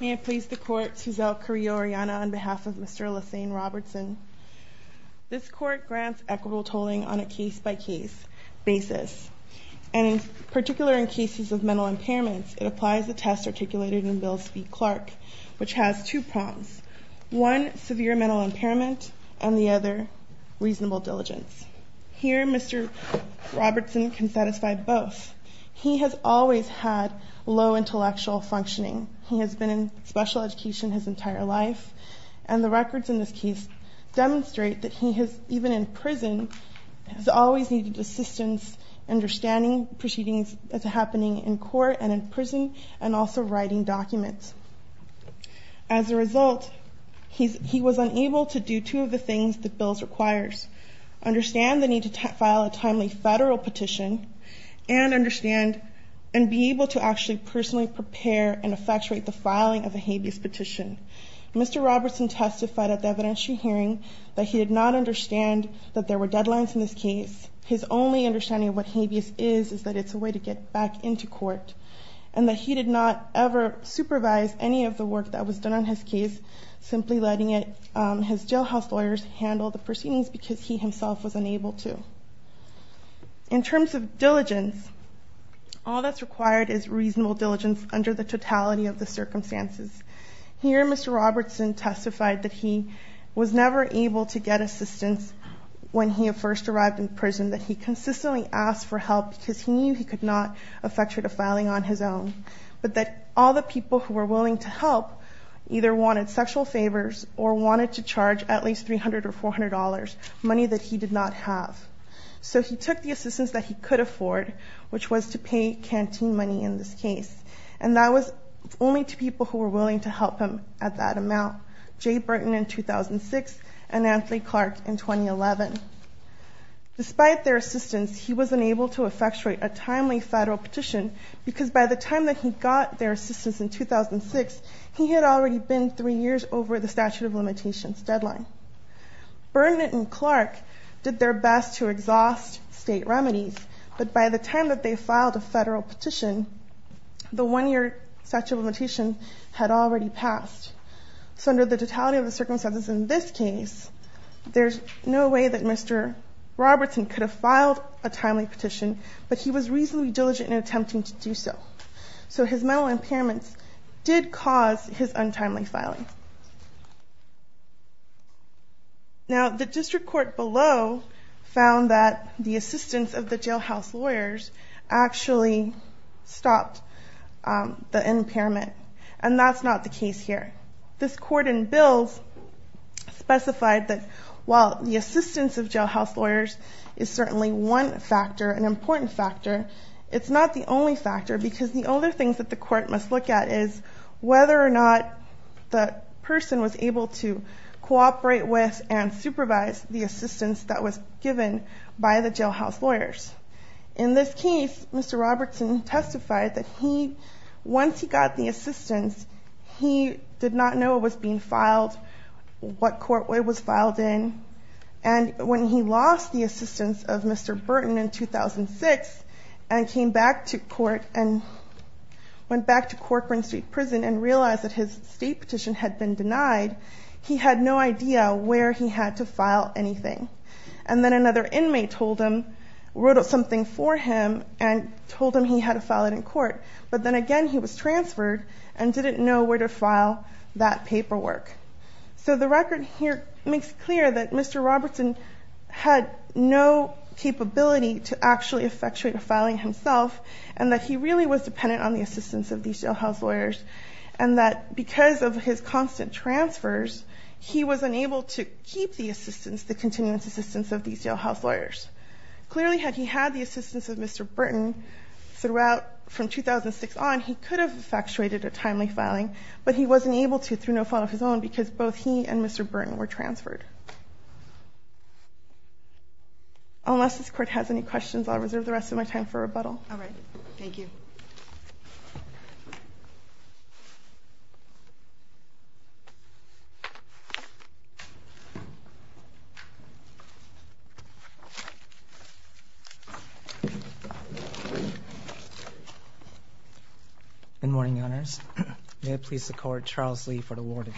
May it please the court, Suzelle Carrillo-Oriana on behalf of Mr. Lasane Robertson. This court grants equitable tolling on a case-by-case basis. And in particular, in cases of mental impairments, it applies the test articulated in Bill's v. Clark, which has two prongs, one, severe mental impairment, and the other, reasonable diligence. Here, Mr. Robertson can satisfy both. He has always had low intellectual functioning. He has been in special education his entire life. And the records in this case demonstrate that he has, even in prison, has always needed assistance understanding proceedings that's happening in court and in prison, and also writing documents. As a result, he was unable to do two of the things that Bill's requires, understand the need to file a timely federal petition, and understand and be able to actually personally prepare and effectuate the filing of a habeas petition. Mr. Robertson testified at the evidentiary hearing that he did not understand that there were deadlines in this case. His only understanding of what habeas is is that it's a way to get back into court, and that he did not ever supervise any of the work that was done on his case, simply letting his jailhouse lawyers handle the proceedings because he himself was unable to. In terms of diligence, all that's mentioned is the brutality of the circumstances. Here, Mr. Robertson testified that he was never able to get assistance when he first arrived in prison, that he consistently asked for help because he knew he could not effectuate a filing on his own, but that all the people who were willing to help either wanted sexual favors or wanted to charge at least $300 or $400, money that he did not have. So he took the assistance that he could afford, which was to pay canteen money in this case. And that was only to people who were willing to help him at that amount, Jay Burton in 2006 and Anthony Clark in 2011. Despite their assistance, he was unable to effectuate a timely federal petition because by the time that he got their assistance in 2006, he had already been three years over the statute of limitations deadline. Burton and Clark did their best to exhaust state remedies, but by the time that they filed a federal petition, the one-year statute of limitations had already passed. So under the totality of the circumstances in this case, there's no way that Mr. Robertson could have filed a timely petition, but he was reasonably diligent in attempting to do so. So his mental impairments did cause his untimely filing. Now, the district court below found that the assistance of the jailhouse lawyers actually stopped the impairment. And that's not the case here. This court in Bills specified that while the assistance of jailhouse lawyers is certainly one factor, an important factor, it's not the only factor because the other things that the court must look at is whether or not the person was able to cooperate with and supervise the assistance that was given by the jailhouse lawyers. In this case, Mr. Robertson testified that once he got the assistance, he did not know what was being filed, what court it was filed in. And when he lost the assistance of Mr. Burton in 2006 and came back to court and went back to Corcoran Street Prison and realized that his state petition had been denied, he had no idea where he had to file anything. And then another inmate told him, wrote something for him, and told him he had to file it in court. But then again, he was transferred and didn't know where to file that paperwork. So the record here makes clear that Mr. Robertson had no capability to actually effectuate a filing himself and that he really was dependent on the assistance of these jailhouse lawyers. And that because of his constant transfers, he was unable to keep the assistance, the continuous assistance of these jailhouse lawyers. Clearly, had he had the assistance of Mr. Burton throughout from 2006 on, he could have effectuated a timely filing. But he wasn't able to through no fault of his own, because both he and Mr. Burton were transferred. Unless this court has any questions, I'll reserve the rest of my time for rebuttal. All right. Thank you. Thank you. Good morning, Your Honors. May it please the court, Charles Lee for the warning.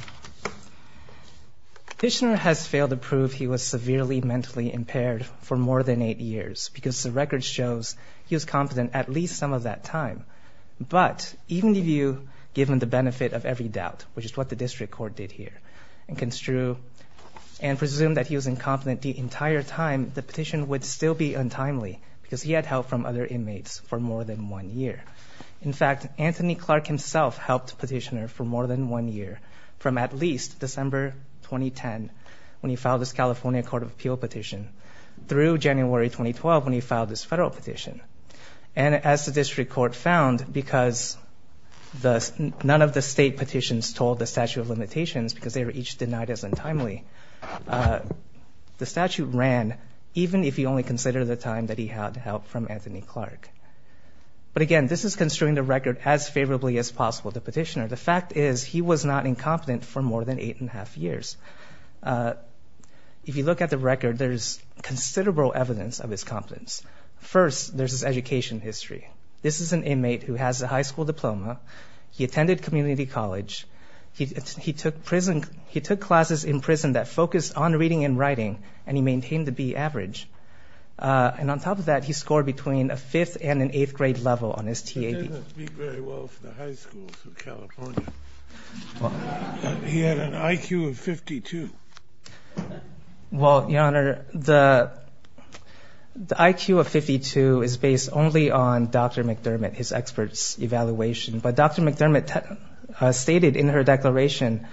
Dishner has failed to prove he was severely mentally impaired for more than eight years, because the record shows he was competent at least some of that time. But even if you give him the benefit of every doubt, which is what the district court did here, and presumed that he was incompetent the entire time, the petition would still be untimely, because he had help from other inmates for more than one year. In fact, Anthony Clark himself helped petitioner for more than one year, from at least December 2010, when he filed this California Court of Appeal petition, through January 2012, when he filed this federal petition. And as the district court found, because none of the state petitions told the statute of limitations, because they were each denied as untimely, the statute ran, even if you only consider the time that he had help from Anthony Clark. But again, this is construing the record as favorably as possible to petitioner. The fact is, he was not incompetent for more than 8 and 1⁄2 years. If you look at the record, there is considerable evidence of his competence. First, there's his education history. This is an inmate who has a high school diploma. He attended community college. He took classes in prison that focused on reading and writing, and he maintained the B average. And on top of that, he scored between a fifth and an eighth grade level on his TAB. He didn't speak very well for the high schools of California. He had an IQ of 52. Well, Your Honor, the IQ of 52 is based only on Dr. McDermott, his expert's evaluation. But Dr. McDermott stated in her declaration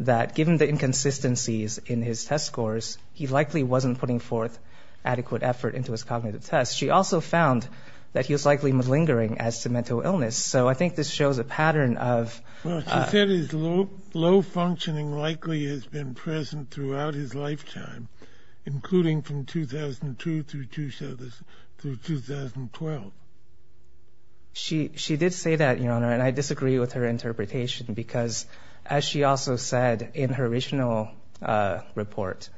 that, given the inconsistencies in his test scores, he likely wasn't putting forth adequate effort into his cognitive tests. She also found that he was likely malingering as to mental illness. So I think this shows a pattern of- Well, she said his low functioning likely has been present throughout his lifetime, including from 2002 through 2012. Well, she did say that, Your Honor, and I disagree with her interpretation. Because as she also said in her original report,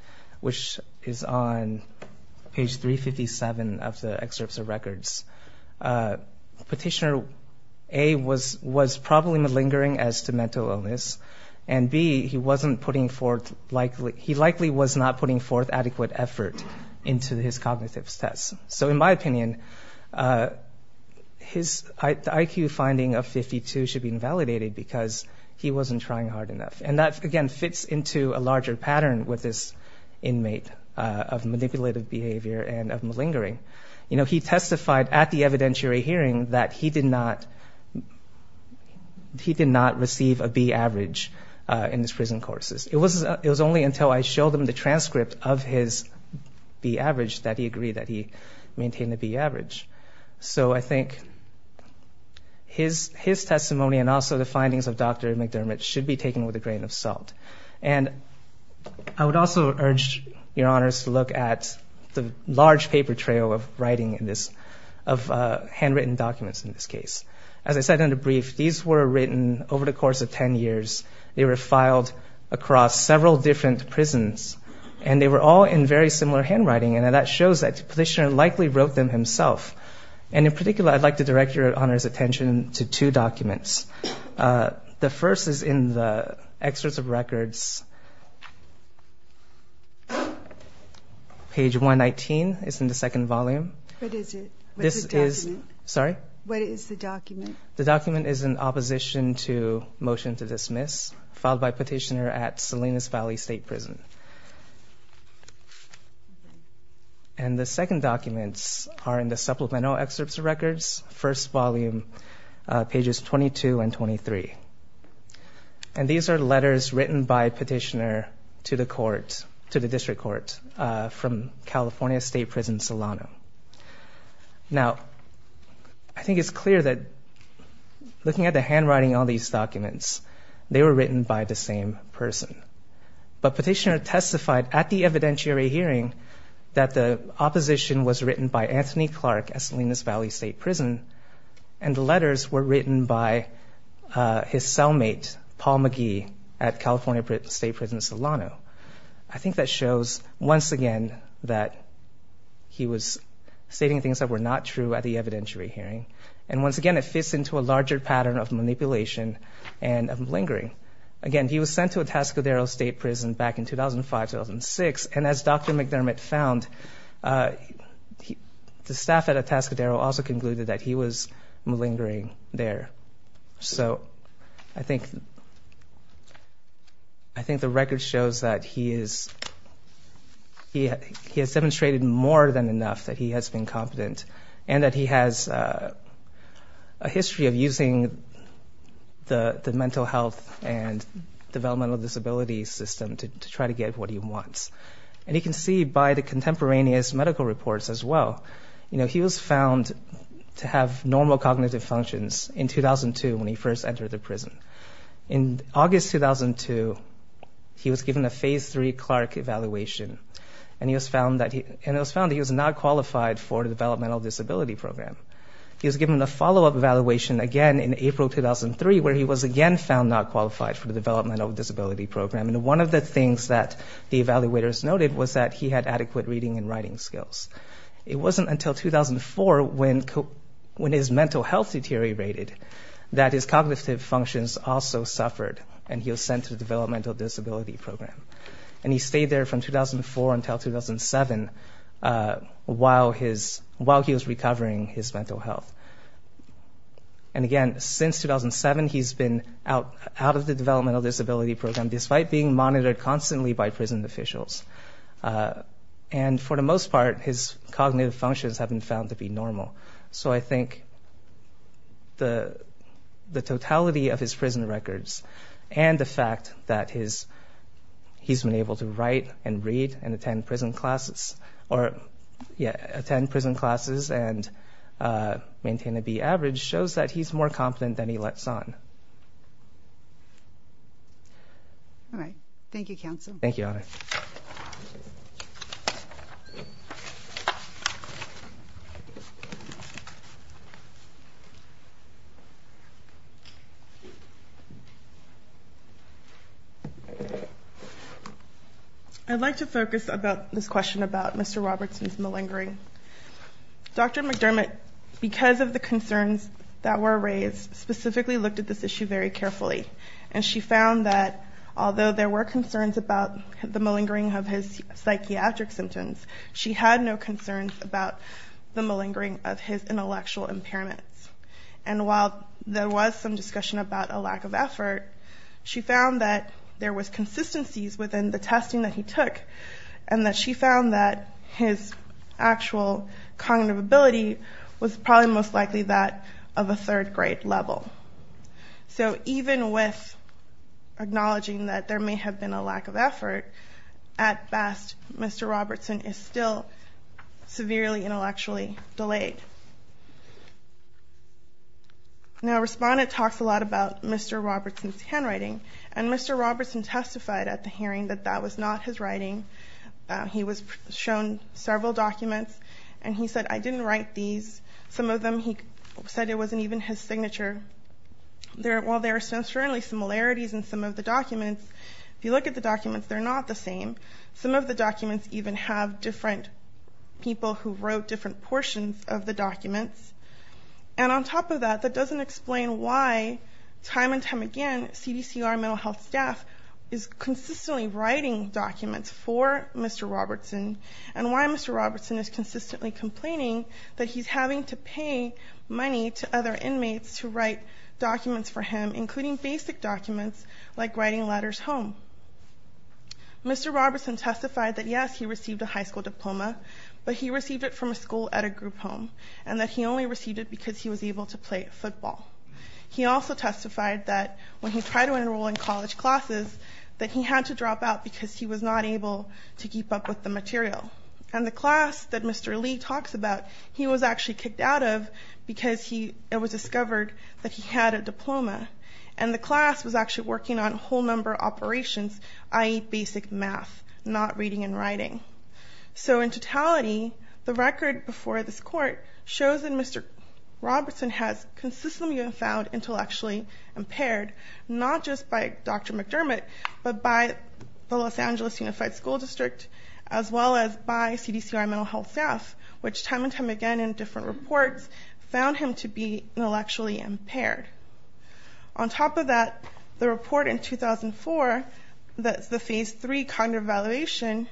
which is on page 357 of the excerpts of records, Petitioner A was probably malingering as to mental illness. And B, he likely was not putting forth adequate effort into his cognitive tests. So in my opinion, the IQ finding of 52 should be invalidated because he wasn't trying hard enough. And that, again, fits into a larger pattern with this inmate of manipulative behavior and of malingering. He testified at the evidentiary hearing that he did not receive a B average in his prison courses. It was only until I showed him the transcript of his B maintained the B average. So I think his testimony and also the findings of Dr. McDermott should be taken with a grain of salt. And I would also urge Your Honors to look at the large paper trail of writing in this, of handwritten documents in this case. As I said in the brief, these were written over the course of 10 years. They were filed across several different prisons. And they were all in very similar handwriting. And that shows that the petitioner likely wrote them himself. And in particular, I'd like to direct Your Honors attention to two documents. The first is in the excerpts of records. Page 119 is in the second volume. What is it? What's the document? Sorry? What is the document? The document is an opposition to motion to dismiss filed by petitioner at Salinas Valley State Prison. And the second documents are in the supplemental excerpts of records, first volume, pages 22 and 23. And these are letters written by petitioner to the court, to the district court, from California State Prison Solano. Now, I think it's clear that looking at the handwriting on these documents, they were written by the same person. But petitioner testified at the evidentiary hearing that the opposition was written by Anthony Clark at Salinas Valley State Prison. And the letters were written by his cellmate, Paul McGee, at California State Prison Solano. I think that shows, once again, that he was stating things that were not true at the evidentiary hearing. And once again, it fits into a larger pattern of manipulation and of lingering. Again, he was sent to a Tascadero State Prison back in 2005, 2006. And as Dr. McDermott found, the staff at a Tascadero also concluded that he was malingering there. So I think the record shows that he has demonstrated more than enough that he has been competent, and that he has a history of using the mental health and developmental disability system to try to get what he wants. And you can see by the contemporaneous medical reports as well, he was found to have normal cognitive functions in 2002 when he first entered the prison. In August 2002, he was given a phase three Clark evaluation. And it was found that he was not qualified for the developmental disability program. He was given a follow-up evaluation, again, in April 2003, where he was again found not qualified for the developmental disability program. And one of the things that the evaluators noted was that he had adequate reading and writing skills. It wasn't until 2004, when his mental health deteriorated, that his cognitive functions also suffered. And he was sent to the developmental disability program. And he stayed there from 2004 until 2007 while he was recovering his mental health. And again, since 2007, he's been out of the developmental disability program, despite being monitored constantly by prison officials. And for the most part, his cognitive functions have been found to be normal. So I think the totality of his prison records and the fact that he's been able to write and read and attend prison classes and maintain a B average shows that he's more competent than he lets on. All right. Thank you, counsel. Thank you, Honor. I'd like to focus this question about Mr. Robertson's malingering. Dr. McDermott, because of the concerns that were raised, specifically looked at this issue very carefully. And she found that, although there were concerns about the malingering of his psychiatric symptoms, she had no concerns about the malingering of his intellectual impairments. And while there was some discussion about a lack of effort, she found that there was consistencies within the testing that he took. And that she found that his actual cognitive ability was probably most likely that of a third grade level. So even with acknowledging that there may have been a lack of effort, at best, Mr. Robertson is still severely intellectually delayed. Now, Respondent talks a lot about Mr. Robertson's handwriting. And Mr. Robertson testified at the hearing that that was not his writing. He was shown several documents. And he said, I didn't write these. Some of them, he said it wasn't even his signature. While there are certainly similarities in some of the documents, if you look at the documents, they're not the same. Some of the documents even have different people who wrote different portions of the documents. And on top of that, that doesn't explain why, time and time again, CDCR mental health staff is consistently writing documents for Mr. Robertson, and why Mr. Robertson is consistently complaining that he's having to pay money to other inmates to write documents for him, including basic documents like writing letters home. Mr. Robertson testified that, yes, he received a high school diploma, but he received it from a school at a group home, and that he only received it because he was able to play football. He also testified that when he tried to enroll in college classes, that he had to drop out because he was not able to keep up with the material. And the class that Mr. Lee talks about, he was actually kicked out of because it was discovered that he had a diploma. And the class was actually working on whole number operations, i.e. basic math, not reading and writing. So in totality, the record before this court shows that Mr. Robertson has consistently been found intellectually impaired, not just by Dr. McDermott, but by the Los Angeles Unified School District, as well as by CDCR mental health staff, which time and time again in different reports found him to be intellectually impaired. On top of that, the report in 2004, that's the phase three cognitive evaluation,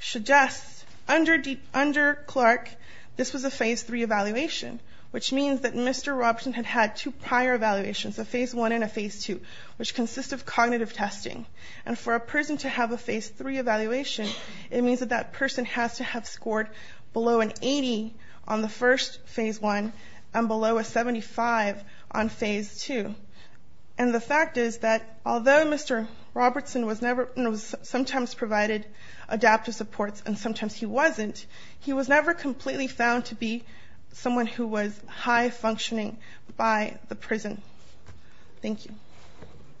suggests under Clark, this was a phase three evaluation, which means that Mr. Robertson had had two prior evaluations, a phase one and a phase two, which consist of cognitive testing. And for a person to have a phase three evaluation, it means that that person has to have scored below an 80 on the first phase one, and below a 75 on phase two. And the fact is that although Mr. Robertson was sometimes provided adaptive supports and sometimes he wasn't, he was never completely found to be someone who was high functioning by the prison. Thank you.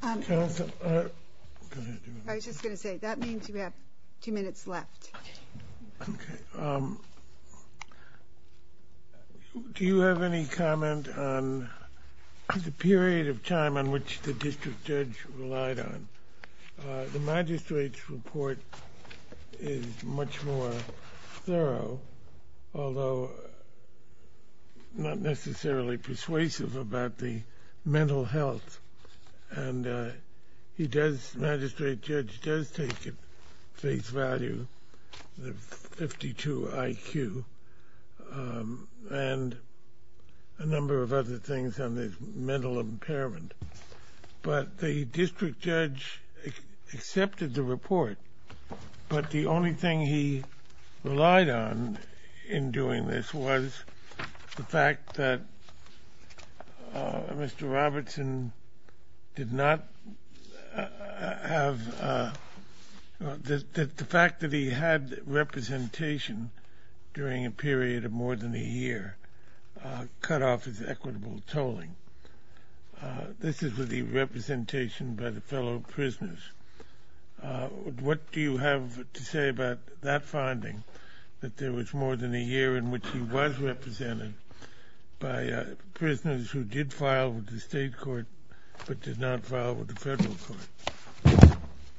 I was just gonna say, that means we have two minutes left. Do you have any comment on the period of time on which the district judge relied on? The magistrate's report is much more thorough, although not necessarily persuasive about the mental health. And he does, magistrate judge does take at face value the 52 IQ and a number of other things on the mental impairment. But the district judge accepted the report, but the only thing he relied on in doing this was the fact that Mr. Robertson did not have, the fact that he had representation during a period of more than a year, cut off his equitable tolling. This is with the representation by the fellow prisoners. What do you have to say about that finding, that there was more than a year in which he was represented by prisoners who did file with the state court, but did not file with the federal court?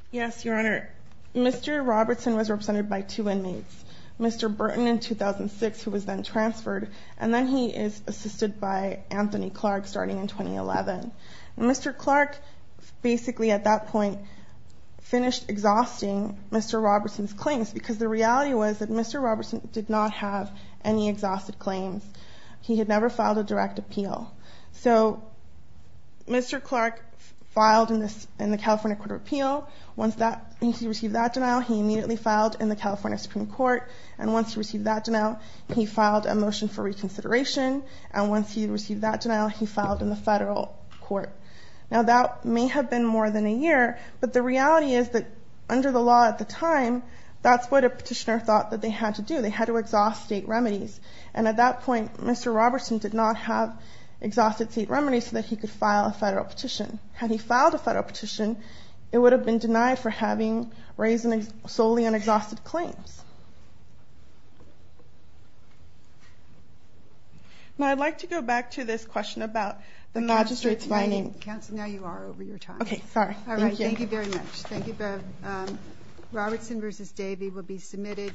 Yes, your honor. Mr. Robertson was represented by two inmates, Mr. Burton in 2006, who was then transferred. And then he is assisted by Anthony Clark starting in 2011. Mr. Clark basically at that point finished exhausting Mr. Robertson's claims because the reality was that Mr. Robertson did not have any exhausted claims. He had never filed a direct appeal. So Mr. Clark filed in the California Court of Appeal. Once he received that denial, he immediately filed in the California Supreme Court. And once he received that denial, he filed a motion for reconsideration. And once he received that denial, he filed in the federal court. Now that may have been more than a year, but the reality is that under the law at the time, that's what a petitioner thought that they had to do. They had to exhaust state remedies. And at that point, Mr. Robertson did not have exhausted state remedies so that he could file a federal petition. Had he filed a federal petition, it would have been denied for having raised solely on exhausted claims. Now I'd like to go back to this question about the magistrate's mining. Counsel, now you are over your time. Okay, sorry. All right, thank you very much. Thank you both. Robertson versus Davey will be submitted.